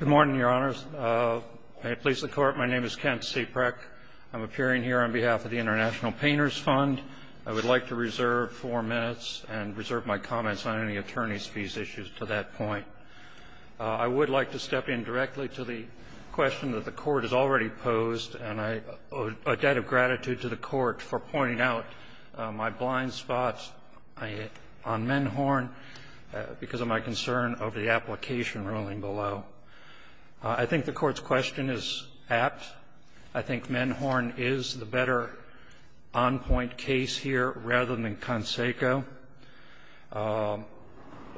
Good morning, Your Honors. May it please the Court, my name is Kent C. Preck. I'm appearing here on behalf of the International Painters Fund. I would like to reserve four minutes and reserve my comments on any attorney's fees issues to that point. I would like to step in directly to the question that the Court has already posed, and I owe a debt of gratitude to the Court for pointing out my blind spots on Menhorn because of my concern of the application ruling below. I think the Court's question is apt. I think Menhorn is the better on-point case here rather than Canseco.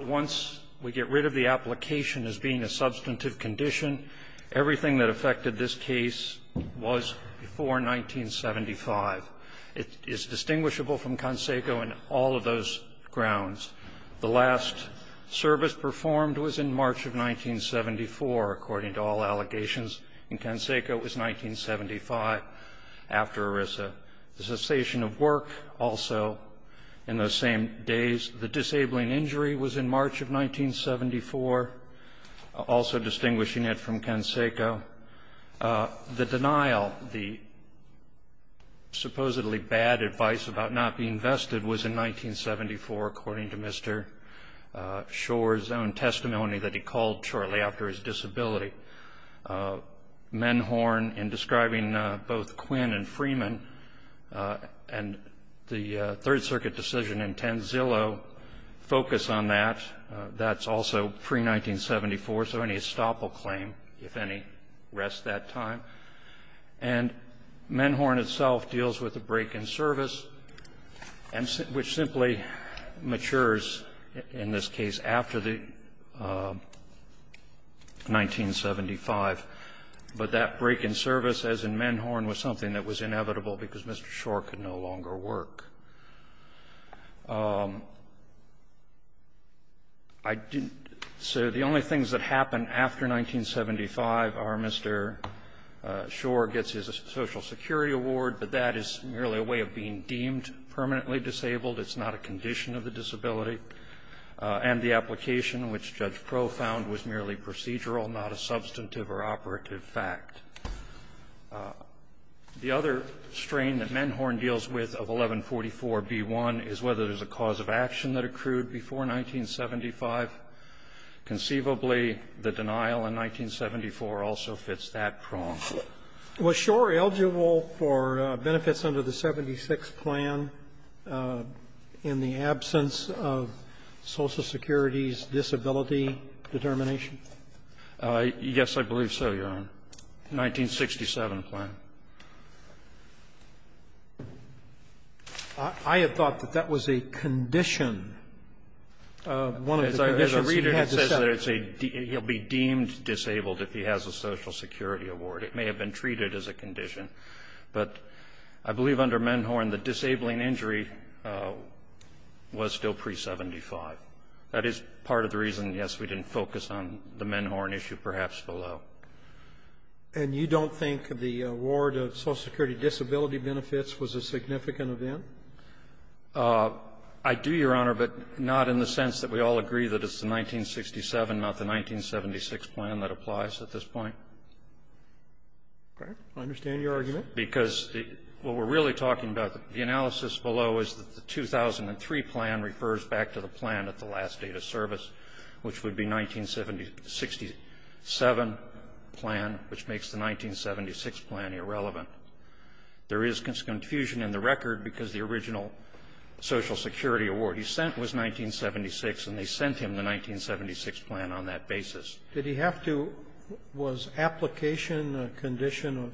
Once we get rid of the application as being a substantive condition, everything that affected this case was before 1975. It is distinguishable from Canseco in all of those grounds. The last service performed was in March of 1974, according to all allegations, and Canseco was 1975 after ERISA. The cessation of work also in those same days. The disabling injury was in March of 1974, also distinguishing it from Canseco. The denial, the supposedly bad advice about not being vested was in 1974, according to Mr. Schor's own testimony that he called shortly after his disability. Menhorn, in describing both Quinn and Freeman, and the Third Circuit decision in Tenzillo, focus on that. That's also pre-1974, so any estoppel claim, if any, rests that time. And Menhorn itself deals with a break in service, which simply matures, in this case, after the 1975, but that break in service, as in Menhorn, was something that was inevitable because Mr. Schor could no longer work. I didn't so the only things that happened after 1975 are Mr. Schor gets his Social Security Award, but that is merely a way of being deemed permanently disabled. It's not a condition of the disability. And the application, which Judge Pro found, was merely procedural, not a substantive or operative fact. The other strain that Menhorn deals with of 1144b1 is whether there's a cause of action that accrued before 1975. Conceivably, the denial in 1974 also fits that prong. Was Schor eligible for benefits under the 76 plan in the absence of Social Security's disability determination? Yes, I believe so, Your Honor. The 1967 plan. I had thought that that was a condition. One of the conditions he had to set. As I read it, it says that he'll be deemed disabled if he has a Social Security Award. It may have been treated as a condition. But I believe under Menhorn, the disabling injury was still pre-'75. That is part of the reason, yes, we didn't focus on the Menhorn issue perhaps below. And you don't think the award of Social Security disability benefits was a significant event? I do, Your Honor, but not in the sense that we all agree that it's the 1967, not the 1976 plan that applies at this point. Okay. I understand your argument. Because what we're really talking about, the analysis below is that the 2003 plan refers back to the plan at the last date of service, which would be 1967 plan, which makes the 1976 plan irrelevant. There is confusion in the record because the original Social Security award he sent was 1976, and they sent him the 1976 plan on that basis. Did he have to was application a condition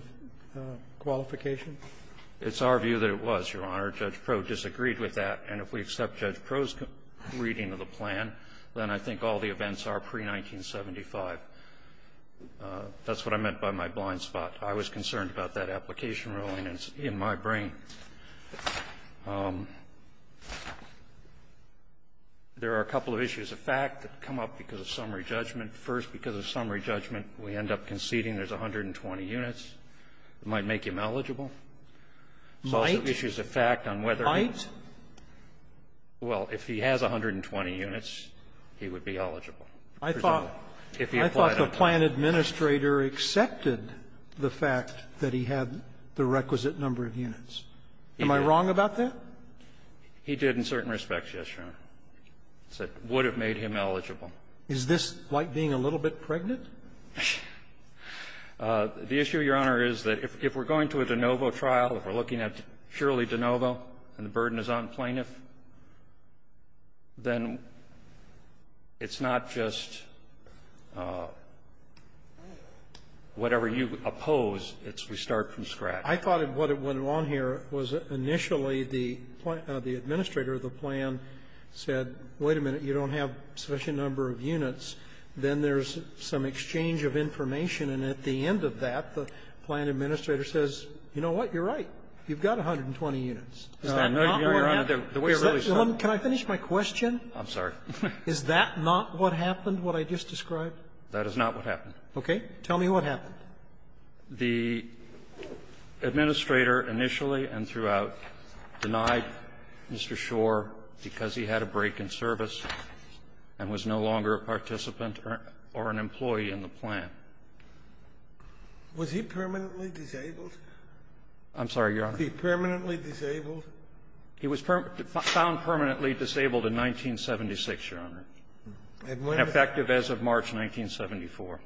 of qualification? It's our view that it was, Your Honor. Judge Proulx disagreed with that. And if we accept Judge Proulx's reading of the plan, then I think all the events are pre-1975. That's what I meant by my blind spot. I was concerned about that application ruling. It's in my brain. There are a couple of issues of fact that come up because of summary judgment. First, because of summary judgment, we end up conceding there's 120 units. It might make him eligible. Might? Might? Well, if he has 120 units, he would be eligible. I thought the plan administrator accepted the fact that he had the requisite number of units. Am I wrong about that? He did in certain respects, yes, Your Honor. It would have made him eligible. Is this like being a little bit pregnant? The issue, Your Honor, is that if we're going to a de novo trial, if we're looking at purely de novo and the burden is on plaintiff, then it's not just whatever you oppose, it's we start from scratch. I thought what went wrong here was initially the administrator of the plan said, wait a minute, you don't have such a number of units. Then there's some exchange of information. And at the end of that, the plan administrator says, you know what, you're right. You've got 120 units. Is that not where you're at? Can I finish my question? I'm sorry. Is that not what happened, what I just described? That is not what happened. Okay. Tell me what happened. The administrator initially and throughout denied Mr. Schor because he had a break in service and was no longer a participant or an employee in the plan. Was he permanently disabled? I'm sorry, Your Honor. Was he permanently disabled? He was found permanently disabled in 1976, Your Honor, effective as of March 1974.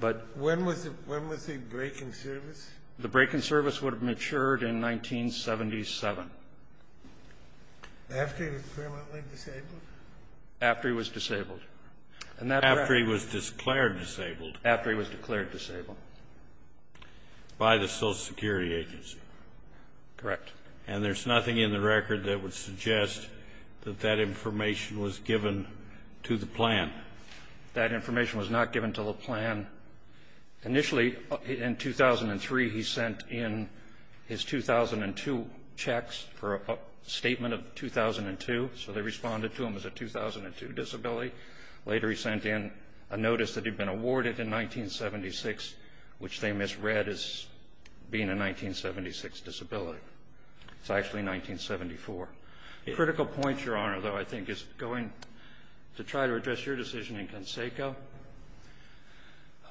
But when was the break in service? The break in service would have matured in 1977. After he was permanently disabled? After he was disabled. After he was declared disabled. After he was declared disabled. By the Social Security Agency. Correct. And there's nothing in the record that would suggest that that information was given to the plan. That information was not given to the plan. Initially, in 2003, he sent in his 2002 checks for a statement of 2002. So they responded to him as a 2002 disability. Later he sent in a notice that he'd been awarded in 1976, which they misread as being a 1976 disability. It's actually 1974. A critical point, Your Honor, though, I think, is going to try to address your decision in Canseco.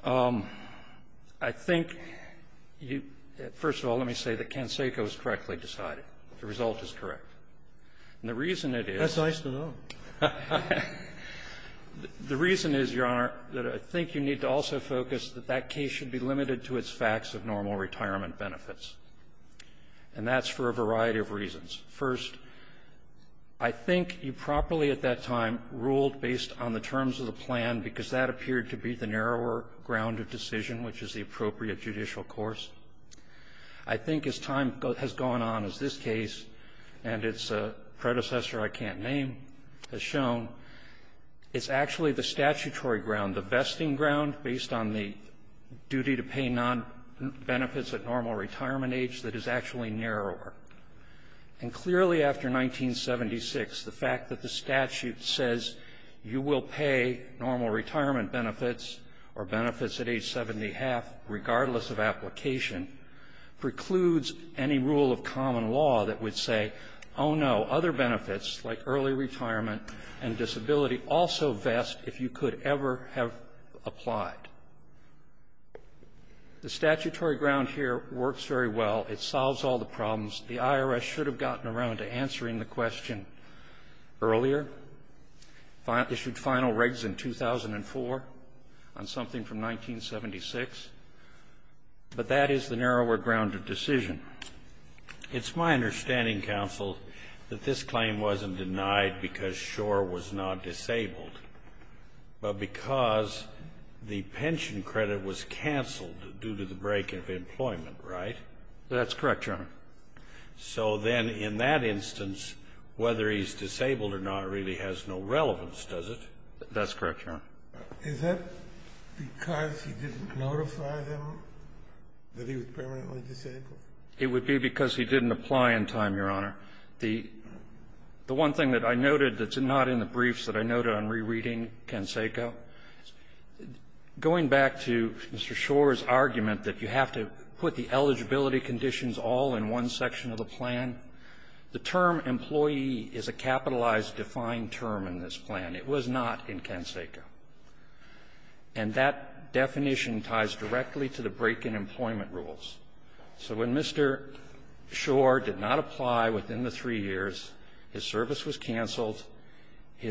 I think you – first of all, let me say that Canseco is correctly decided. The result is correct. And the reason it is – That's nice to know. The reason is, Your Honor, that I think you need to also focus that that case should be limited to its facts of normal retirement benefits. And that's for a variety of reasons. First, I think you properly at that time ruled based on the terms of the plan because that appeared to be the narrower ground of decision, which is the appropriate judicial course. I think as time has gone on, as this case and its predecessor I can't name has shown, it's actually the statutory ground, the vesting ground, based on the duty to pay nonbenefits at normal retirement age that is actually narrower. And clearly after 1976, the fact that the statute says you will pay normal retirement benefits or benefits at age 70 and a half regardless of application precludes any rule of common law that would say, oh, no, other benefits like early retirement and disability also vest if you could ever have applied. The statutory ground here works very well. It solves all the problems. The IRS should have gotten around to answering the question earlier, issued final regs in 2004 on something from 1976. But that is the narrower ground of decision. It's my understanding, counsel, that this claim wasn't denied because Schor was not disabled, but because the pension credit was canceled due to the break of employment, right? That's correct, Your Honor. So then in that instance, whether he's disabled or not really has no relevance, does it? That's correct, Your Honor. Is that because he didn't notify them that he was permanently disabled? It would be because he didn't apply in time, Your Honor. The one thing that I noted that's not in the briefs that I noted on rereading Canseco, going back to Mr. Schor's argument that you have to put the eligibility conditions all in one section of the plan, the term employee is a capitalized, defined term in this plan. It was not in Canseco. And that definition ties directly to the break in employment rules. So when Mr. Schor did not apply within the three years, his service was canceled. He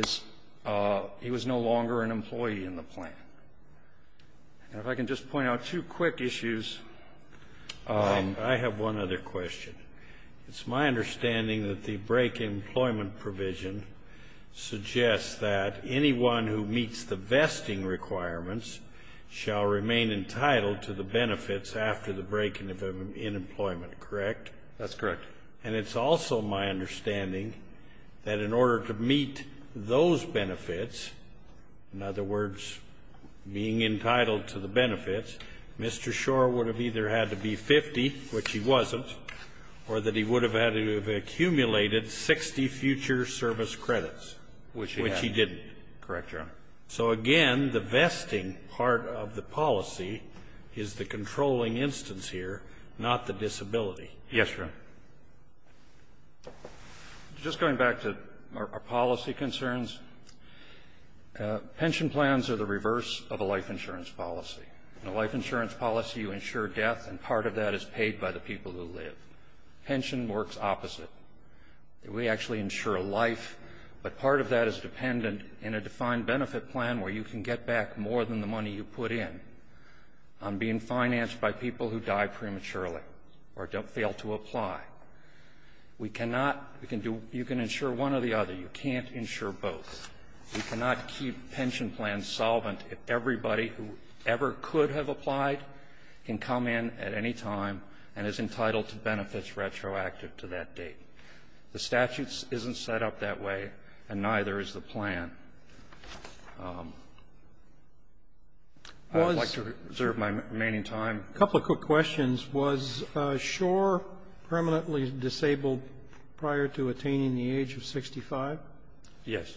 was no longer an employee in the plan. And if I can just point out two quick issues. I have one other question. It's my understanding that the break in employment provision suggests that anyone who meets the vesting requirements shall remain entitled to the benefits after the break in employment, correct? That's correct. And it's also my understanding that in order to meet those benefits, in other words, being entitled to the benefits, Mr. Schor would have either had to be 50, which he wasn't, or that he would have had to have accumulated 60 future service credits, which he didn't. Correct, Your Honor. So, again, the vesting part of the policy is the controlling instance here, not the disability. Yes, Your Honor. Just going back to our policy concerns, pension plans are the reverse of a life insurance policy. In a life insurance policy, you insure death, and part of that is paid by the people who live. Pension works opposite. We actually insure life, but part of that is dependent in a defined benefit plan where you can get back more than the money you put in on being financed by people who die prematurely or fail to apply. You can insure one or the other. You can't insure both. You cannot keep pension plans solvent if everybody who ever could have applied can come in at any time and is entitled to benefits retroactive to that date. The statute isn't set up that way, and neither is the plan. I would like to reserve my remaining time. A couple of quick questions. Was Schor permanently disabled prior to attaining the age of 65? Yes.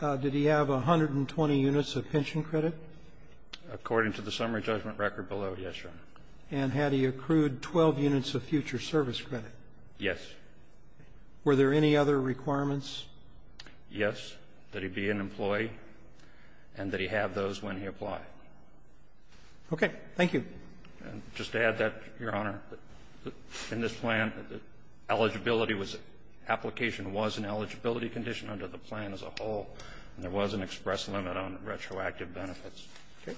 Did he have 120 units of pension credit? According to the summary judgment record below, yes, Your Honor. And had he accrued 12 units of future service credit? Yes. Were there any other requirements? Yes, that he be an employee and that he have those when he applied. Okay. Thank you. Just to add that, Your Honor, in this plan, eligibility was an application was an eligibility condition under the plan as a whole, and there was an express limit on retroactive benefits. Okay.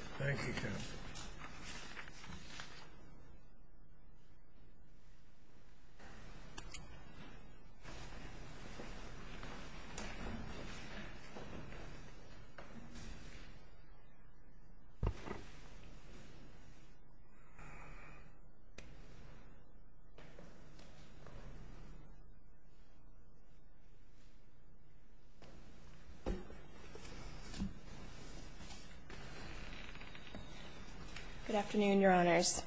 Good afternoon, Your Honors.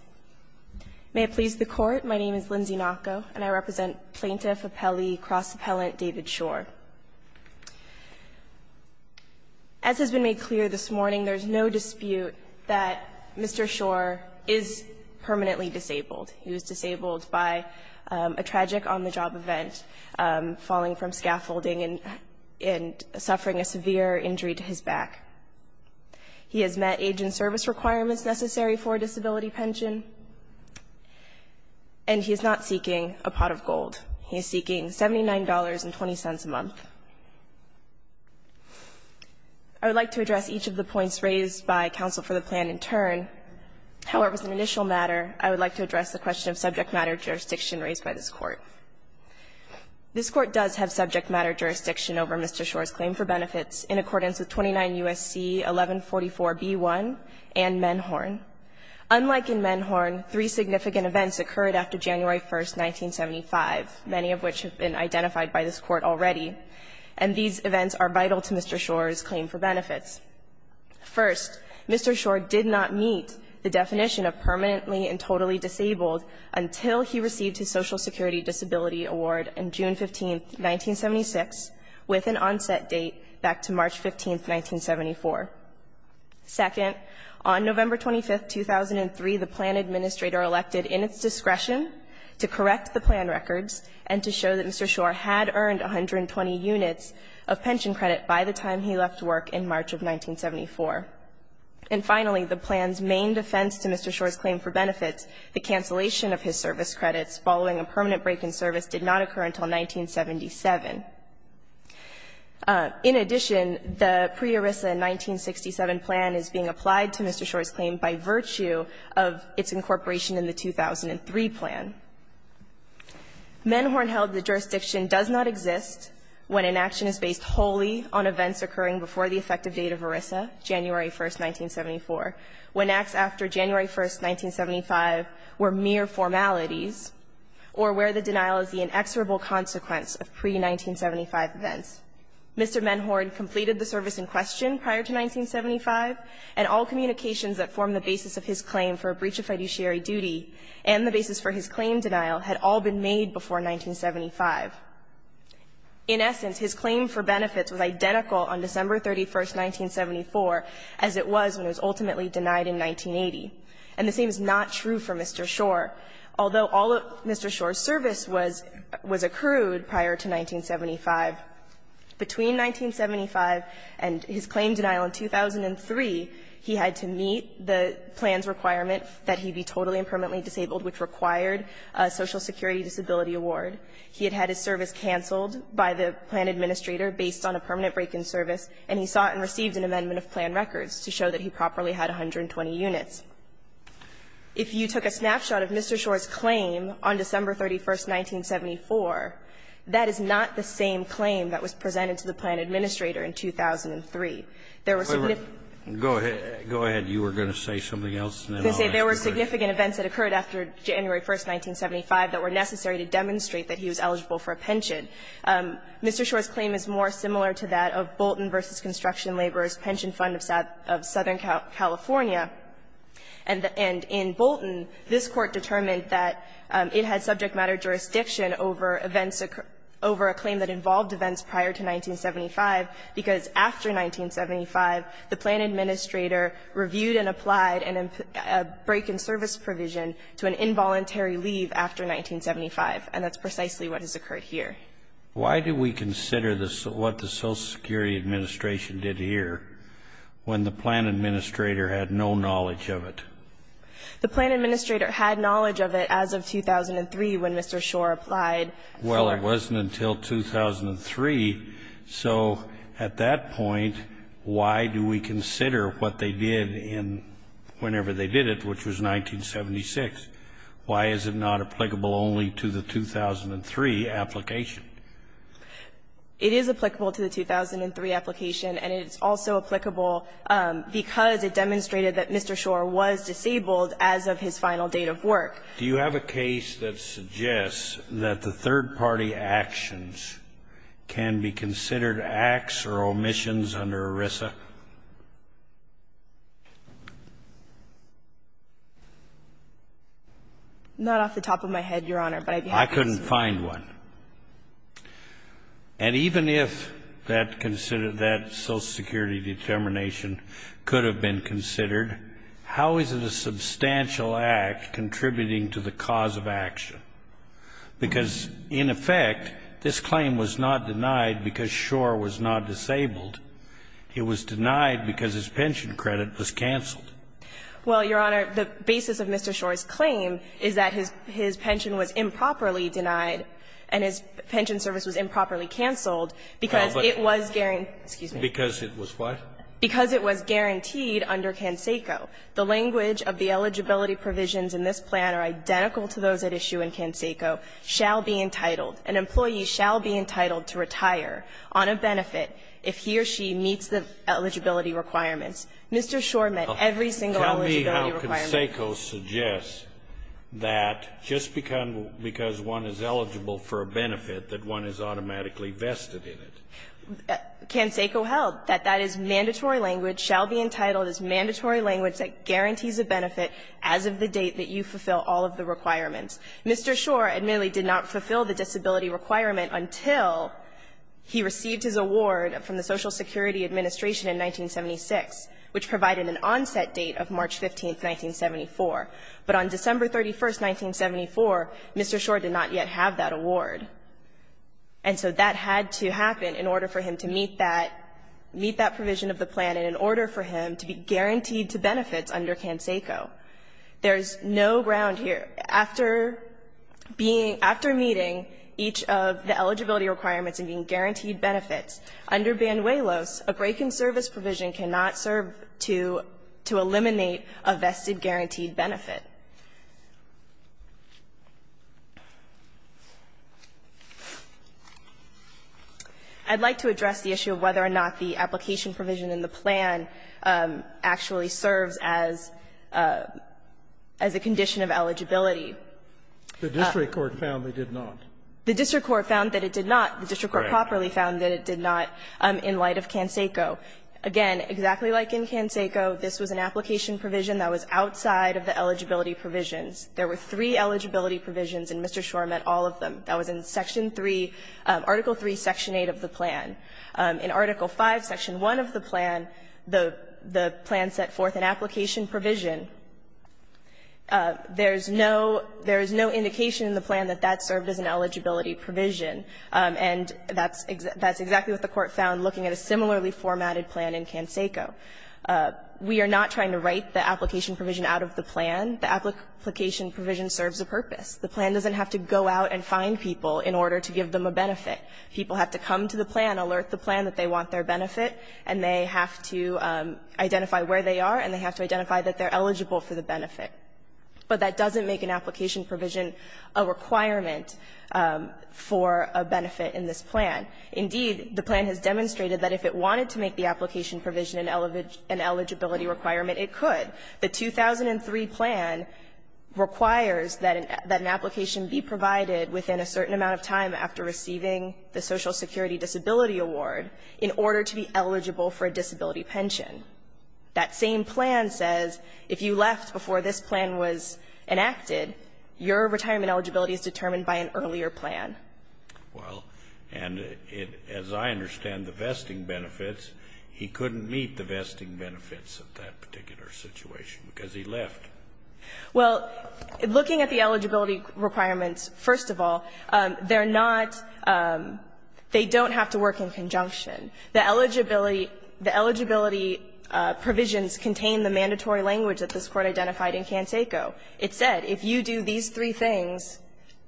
May it please the Court, my name is Lindsay Naco, and I represent Plaintiff Appellee Cross Appellant David Schor. As has been made clear this morning, there is no dispute that Mr. Schor is permanently disabled. He was disabled by a tragic on-the-job event, falling from scaffolding and suffering a severe injury to his back. He has met age and service requirements necessary for a disability pension, and he is not seeking a pot of gold. He is seeking $79.20 a month. I would like to address each of the points raised by counsel for the plan in turn. However, as an initial matter, I would like to address the question of subject matter jurisdiction raised by this Court. This Court does have subject matter jurisdiction over Mr. Schor's claim for benefits in accordance with 29 U.S.C. 1144b1 and Menhorn. Unlike in Menhorn, three significant events occurred after January 1, 1975, many of which have been identified by this Court already, and these events are vital to Mr. Schor's claim for benefits. First, Mr. Schor did not meet the definition of permanently and totally disabled until he received his Social Security Disability Award on June 15, 1976, with an onset date back to March 15, 1974. Second, on November 25, 2003, the plan administrator elected in its discretion to correct the plan records and to show that Mr. Schor had earned 120 units of pension credit by the time he left work in March of 1974. And finally, the plan's main defense to Mr. Schor's claim for benefits, the cancellation of his service credits following a permanent break in service, did not occur until 1977. In addition, the pre-ERISA in 1967 plan is being applied to Mr. Schor's claim by virtue of its incorporation in the 2003 plan. Menhorn held the jurisdiction does not exist when an action is based wholly on events occurring before the effective date of ERISA, January 1, 1974, when acts after January 1, 1975 were mere formalities, or where the denial is the inexorable consequence of pre-1975 events. Mr. Menhorn completed the service in question prior to 1975, and all communications that form the basis of his claim for a breach of fiduciary duty and the basis for his claim denial had all been made before 1975. In essence, his claim for benefits was identical on December 31, 1974 as it was when Mr. Schor was permanently denied in 1980, and the same is not true for Mr. Schor, although all of Mr. Schor's service was accrued prior to 1975. Between 1975 and his claim denial in 2003, he had to meet the plan's requirement that he be totally and permanently disabled, which required a Social Security Disability Award. He had had his service canceled by the plan administrator based on a permanent break-in service, and he sought and received an amendment of plan records to show that he properly had 120 units. If you took a snapshot of Mr. Schor's claim on December 31, 1974, that is not the same claim that was presented to the plan administrator in 2003. There were significant --- Scalia, go ahead. You were going to say something else, and then I'll ask you a question. There were significant events that occurred after January 1, 1975 that were necessary to demonstrate that he was eligible for a pension. Mr. Schor's claim is more similar to that of Bolton v. Construction Laborers Pension Fund of Southern California. And in Bolton, this Court determined that it had subject matter jurisdiction over events occurred over a claim that involved events prior to 1975, because after 1975, the plan administrator reviewed and applied a break-in service provision to an involuntary leave after 1975, and that's precisely what has occurred here. Why do we consider what the Social Security Administration did here when the plan administrator had no knowledge of it? The plan administrator had knowledge of it as of 2003 when Mr. Schor applied. Well, it wasn't until 2003. So at that point, why do we consider what they did in whenever they did it, which was 1976? Why is it not applicable only to the 2003 application? It is applicable to the 2003 application, and it's also applicable because it demonstrated that Mr. Schor was disabled as of his final date of work. Do you have a case that suggests that the third-party actions can be considered acts or omissions under ERISA? Not off the top of my head, Your Honor, but I'd be happy to speak to that. I couldn't find one. And even if that Social Security determination could have been considered, how is it a substantial act contributing to the cause of action? Because, in effect, this claim was not denied because Schor was not disabled. It was denied because his pension credit was canceled. Well, Your Honor, the basis of Mr. Schor's claim is that his pension was improperly denied and his pension service was improperly canceled because it was guaranteed under CanSECO. The language of the eligibility provisions in this plan are identical to those at issue in CanSECO, shall be entitled, an employee shall be entitled to retire on a benefit if he or she meets the eligibility requirements. Mr. Schor met every single eligibility requirement. Tell me how CanSECO suggests that just because one is eligible for a benefit that one is automatically vested in it. CanSECO held that that is mandatory language, shall be entitled, is mandatory language that guarantees a benefit as of the date that you fulfill all of the requirements. Mr. Schor admittedly did not fulfill the disability requirement until he received his award from the Social Security Administration in 1976, which provided an onset date of March 15th, 1974. But on December 31st, 1974, Mr. Schor did not yet have that award. And so that had to happen in order for him to meet that, meet that provision of the plan and in order for him to be guaranteed to benefits under CanSECO. There's no ground here. After being, after meeting each of the eligibility requirements and being guaranteed benefits, under Banuelos, a break in service provision cannot serve to, to eliminate a vested guaranteed benefit. I'd like to address the issue of whether or not the application provision in the plan actually serves as, as a condition of eligibility. The district court found they did not. The district court found that it did not. The district court properly found that it did not in light of CanSECO. Again, exactly like in CanSECO, this was an application provision that was outside of the eligibility provisions. There were three eligibility provisions, and Mr. Schor met all of them. That was in Section 3, Article 3, Section 8 of the plan. In Article 5, Section 1 of the plan, the plan set forth an application provision. There's no indication in the plan that that served as an eligibility provision. And that's exactly what the court found looking at a similarly formatted plan in CanSECO. We are not trying to write the application provision out of the plan. The application provision serves a purpose. The plan doesn't have to go out and find people in order to give them a benefit. People have to come to the plan, alert the plan that they want their benefit, and they have to identify where they are, and they have to identify that they're eligible for the benefit. But that doesn't make an application provision a requirement for a benefit in this plan. Indeed, the plan has demonstrated that if it wanted to make the application provision an eligibility requirement, it could. The 2003 plan requires that an application be provided within a certain amount of time after receiving the Social Security Disability Award in order to be eligible for a disability pension. That same plan says if you left before this plan was enacted, your retirement eligibility is determined by an earlier plan. Well, and as I understand the vesting benefits, he couldn't meet the vesting benefits of that particular situation because he left. Well, looking at the eligibility requirements, first of all, they're not they don't have to work in conjunction. The eligibility provisions contain the mandatory language that this Court identified in Canseco. It said if you do these three things,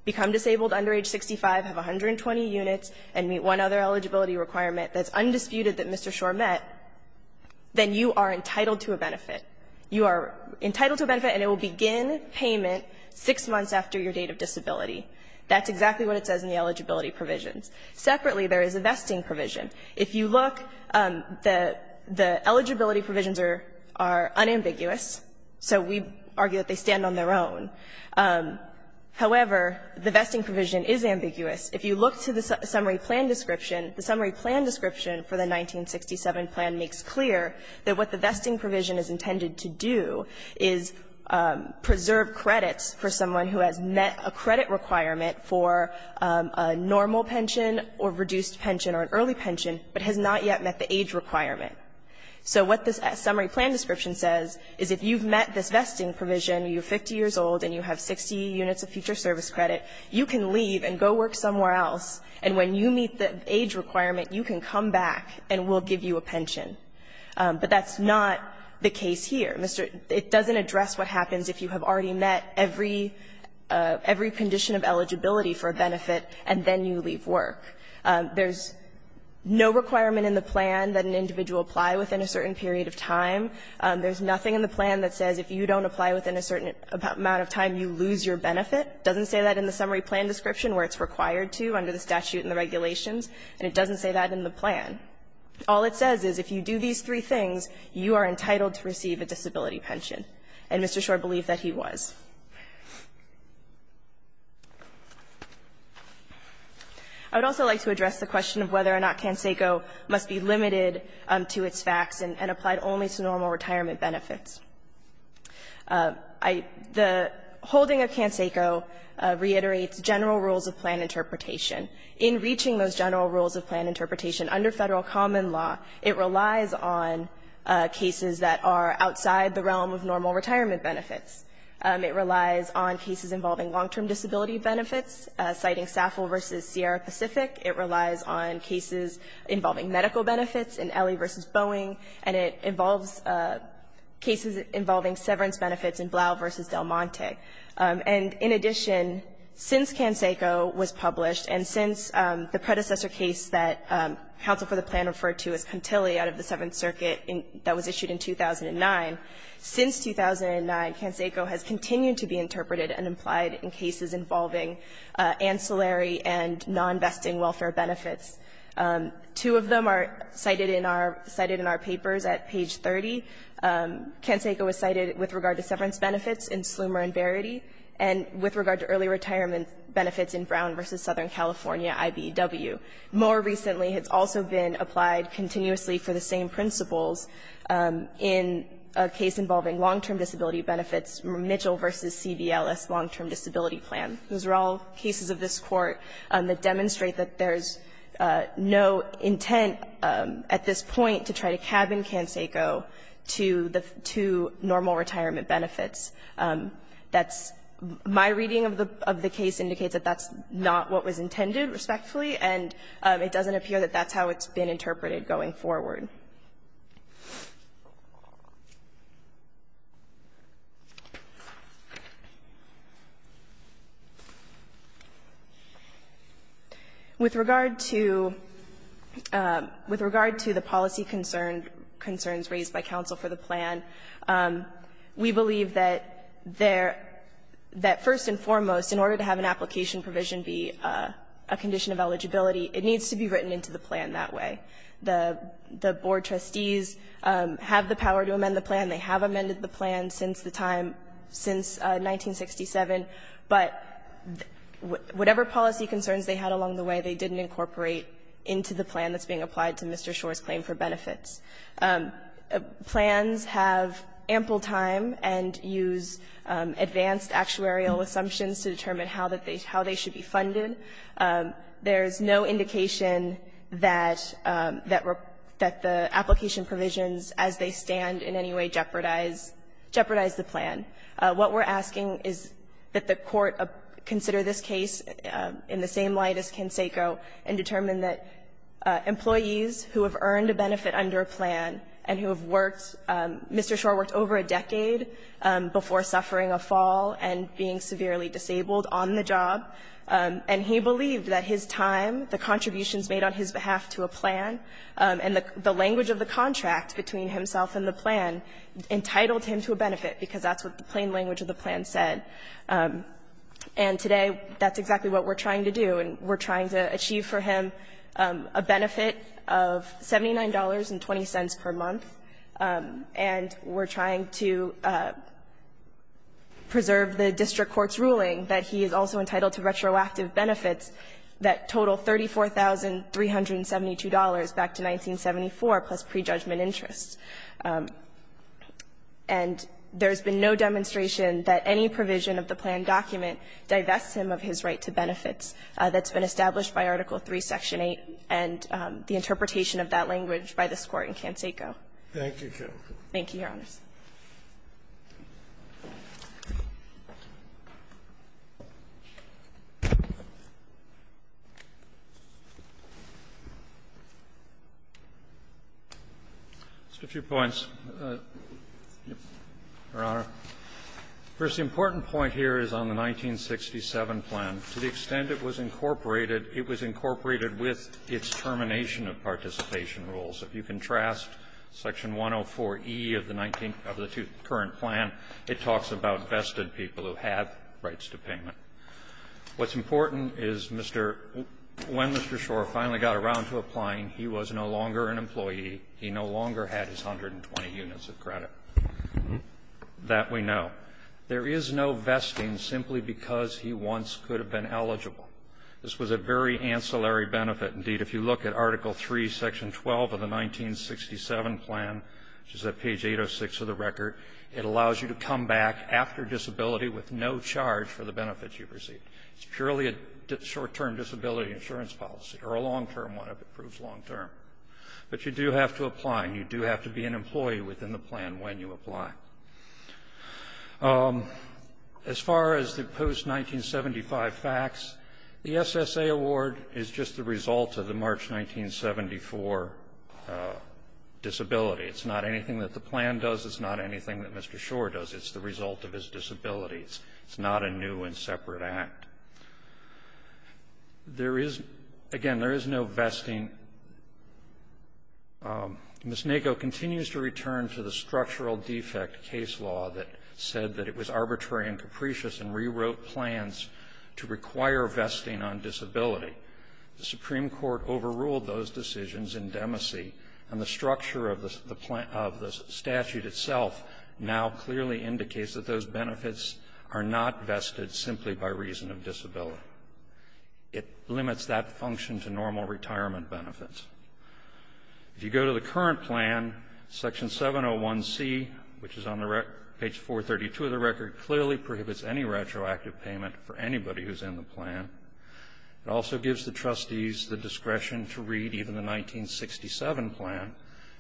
become disabled under age 65, have 120 units and meet one other eligibility requirement that's undisputed that Mr. Schor met, then you are entitled to a benefit. You are entitled to a benefit and it will begin payment six months after your date of disability. That's exactly what it says in the eligibility provisions. Separately, there is a vesting provision. If you look, the eligibility provisions are unambiguous, so we argue that they stand on their own. However, the vesting provision is ambiguous. If you look to the summary plan description, the summary plan description for the 1967 plan makes clear that what the vesting provision is intended to do is preserve credits for someone who has met a credit requirement for a normal pension or reduced pension or an early pension, but has not yet met the age requirement. So what this summary plan description says is if you've met this vesting provision, you're 50 years old and you have 60 units of future service credit, you can leave and go work somewhere else, and when you meet the age requirement, you can come back and we'll give you a pension. But that's not the case here. It doesn't address what happens if you have already met every condition of eligibility for a benefit and then you leave work. There's no requirement in the plan that an individual apply within a certain period of time. There's nothing in the plan that says if you don't apply within a certain amount of time, you lose your benefit. It doesn't say that in the summary plan description where it's required to under the statute and the regulations, and it doesn't say that in the plan. All it says is if you do these three things, you are entitled to receive a disability pension. And Mr. Shor believed that he was. I would also like to address the question of whether or not CanSeco must be limited to its facts and applied only to normal retirement benefits. The holding of CanSeco reiterates general rules of plan interpretation. In reaching those general rules of plan interpretation under Federal common law, it relies on cases that are outside the realm of normal retirement benefits. It relies on cases involving long-term disability benefits, citing SAFL versus Sierra Pacific. It relies on cases involving medical benefits in Ellie versus Boeing, and it involves cases involving severance benefits in Blau versus Del Monte. And in addition, since CanSeco was published and since the predecessor case that counsel for the plan referred to as Contili out of the Seventh Circuit that was issued in 2009, since 2009, CanSeco has continued to be interpreted and applied in cases involving ancillary and non-vesting welfare benefits. Two of them are cited in our papers at page 30. CanSeco was cited with regard to severance benefits in Slumer and Verity, and with regard to early retirement benefits in Brown versus Southern California, IBEW. More recently, it's also been applied continuously for the same principles in a case involving long-term disability benefits, Mitchell versus CVLS long-term disability plan. Those are all cases of this Court that demonstrate that there's no intent at this point to try to cabin CanSeco to the two normal retirement benefits. That's my reading of the case indicates that that's not what was intended, respectfully, and it doesn't appear that that's how it's been interpreted going forward. With regard to the policy concerns raised by counsel for the plan, we believe that there, that first and foremost, in order to have an application provision be a condition of eligibility, it needs to be written into the plan that way. The board trustees have the power to amend the plan. They have amended the plan since the time, since 1967. But whatever policy concerns they had along the way, they didn't incorporate into the plan that's being applied to Mr. Schor's claim for benefits. Plans have ample time and use advanced actuarial assumptions to determine how they should be funded. There's no indication that the application provisions as they stand in any way jeopardize the plan. What we're asking is that the Court consider this case in the same light as CanSeco and determine that employees who have earned a benefit under a plan and who have worked, Mr. Schor worked over a decade before suffering a fall and being severely disabled on the job. And he believed that his time, the contributions made on his behalf to a plan, and the language of the contract between himself and the plan entitled him to a benefit, because that's what the plain language of the plan said. And today, that's exactly what we're trying to do. And we're trying to achieve for him a benefit of $79.20 per month, and we're trying to preserve the district court's ruling that he is also entitled to retroactive benefits that total $34,372 back to 1974, plus prejudgment interests. And there's been no demonstration that any provision of the plan document divests him of his right to benefits that's been established by Article III, Section 8, and the interpretation of that language by this Court in CanSeco. Thank you, Counsel. Thank you, Your Honors. Just a few points, Your Honor. First, the important point here is on the 1967 plan. To the extent it was incorporated, it was incorporated with its termination of participation rules. If you contrast Section 104e of the 19th of the current plan, it talks about vested people who have rights to payment. What's important is Mr. When Mr. Schor finally got around to applying, he was no longer an employee. He no longer had his 120 units of credit. That we know. There is no vesting simply because he once could have been eligible. This was a very ancillary benefit. Indeed, if you look at Article III, Section 12 of the 1967 plan, which is at page 806 of the record, it allows you to come back after disability with no charge for the benefits you've received. It's purely a short-term disability insurance policy, or a long-term one if it proves long-term. But you do have to apply, and you do have to be an employee within the plan when you apply. As far as the post-1975 facts, the SSA award is just the result of the March 1974 disability. It's not anything that the plan does. It's not anything that Mr. Schor does. It's the result of his disability. It's not a new and separate act. There is, again, there is no vesting. Ms. Nago continues to return to the structural defect case law that said that it was arbitrary and capricious and rewrote plans to require vesting on disability. The Supreme Court overruled those decisions in Demacy, and the structure of the statute itself now clearly indicates that those benefits are not vested simply by reason of disability. It limits that function to normal retirement benefits. If you go to the current plan, Section 701C, which is on the record, page 432 of the record, clearly prohibits any retroactive payment for anybody who's in the plan. It also gives the trustees the discretion to read even the 1967 plan,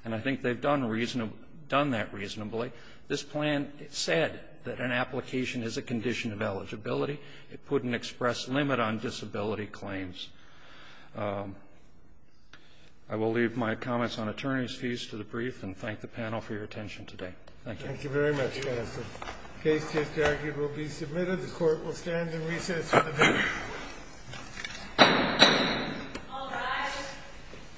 and I think they've done reasonable, done that reasonably. This plan, it said that an application is a condition of eligibility. It put an express limit on disability claims. I will leave my comments on attorney's fees to the brief, and thank the panel for your attention today. Thank you. Thank you very much, Justice. The case to be argued will be submitted. The Court will stand in recess until the verdict.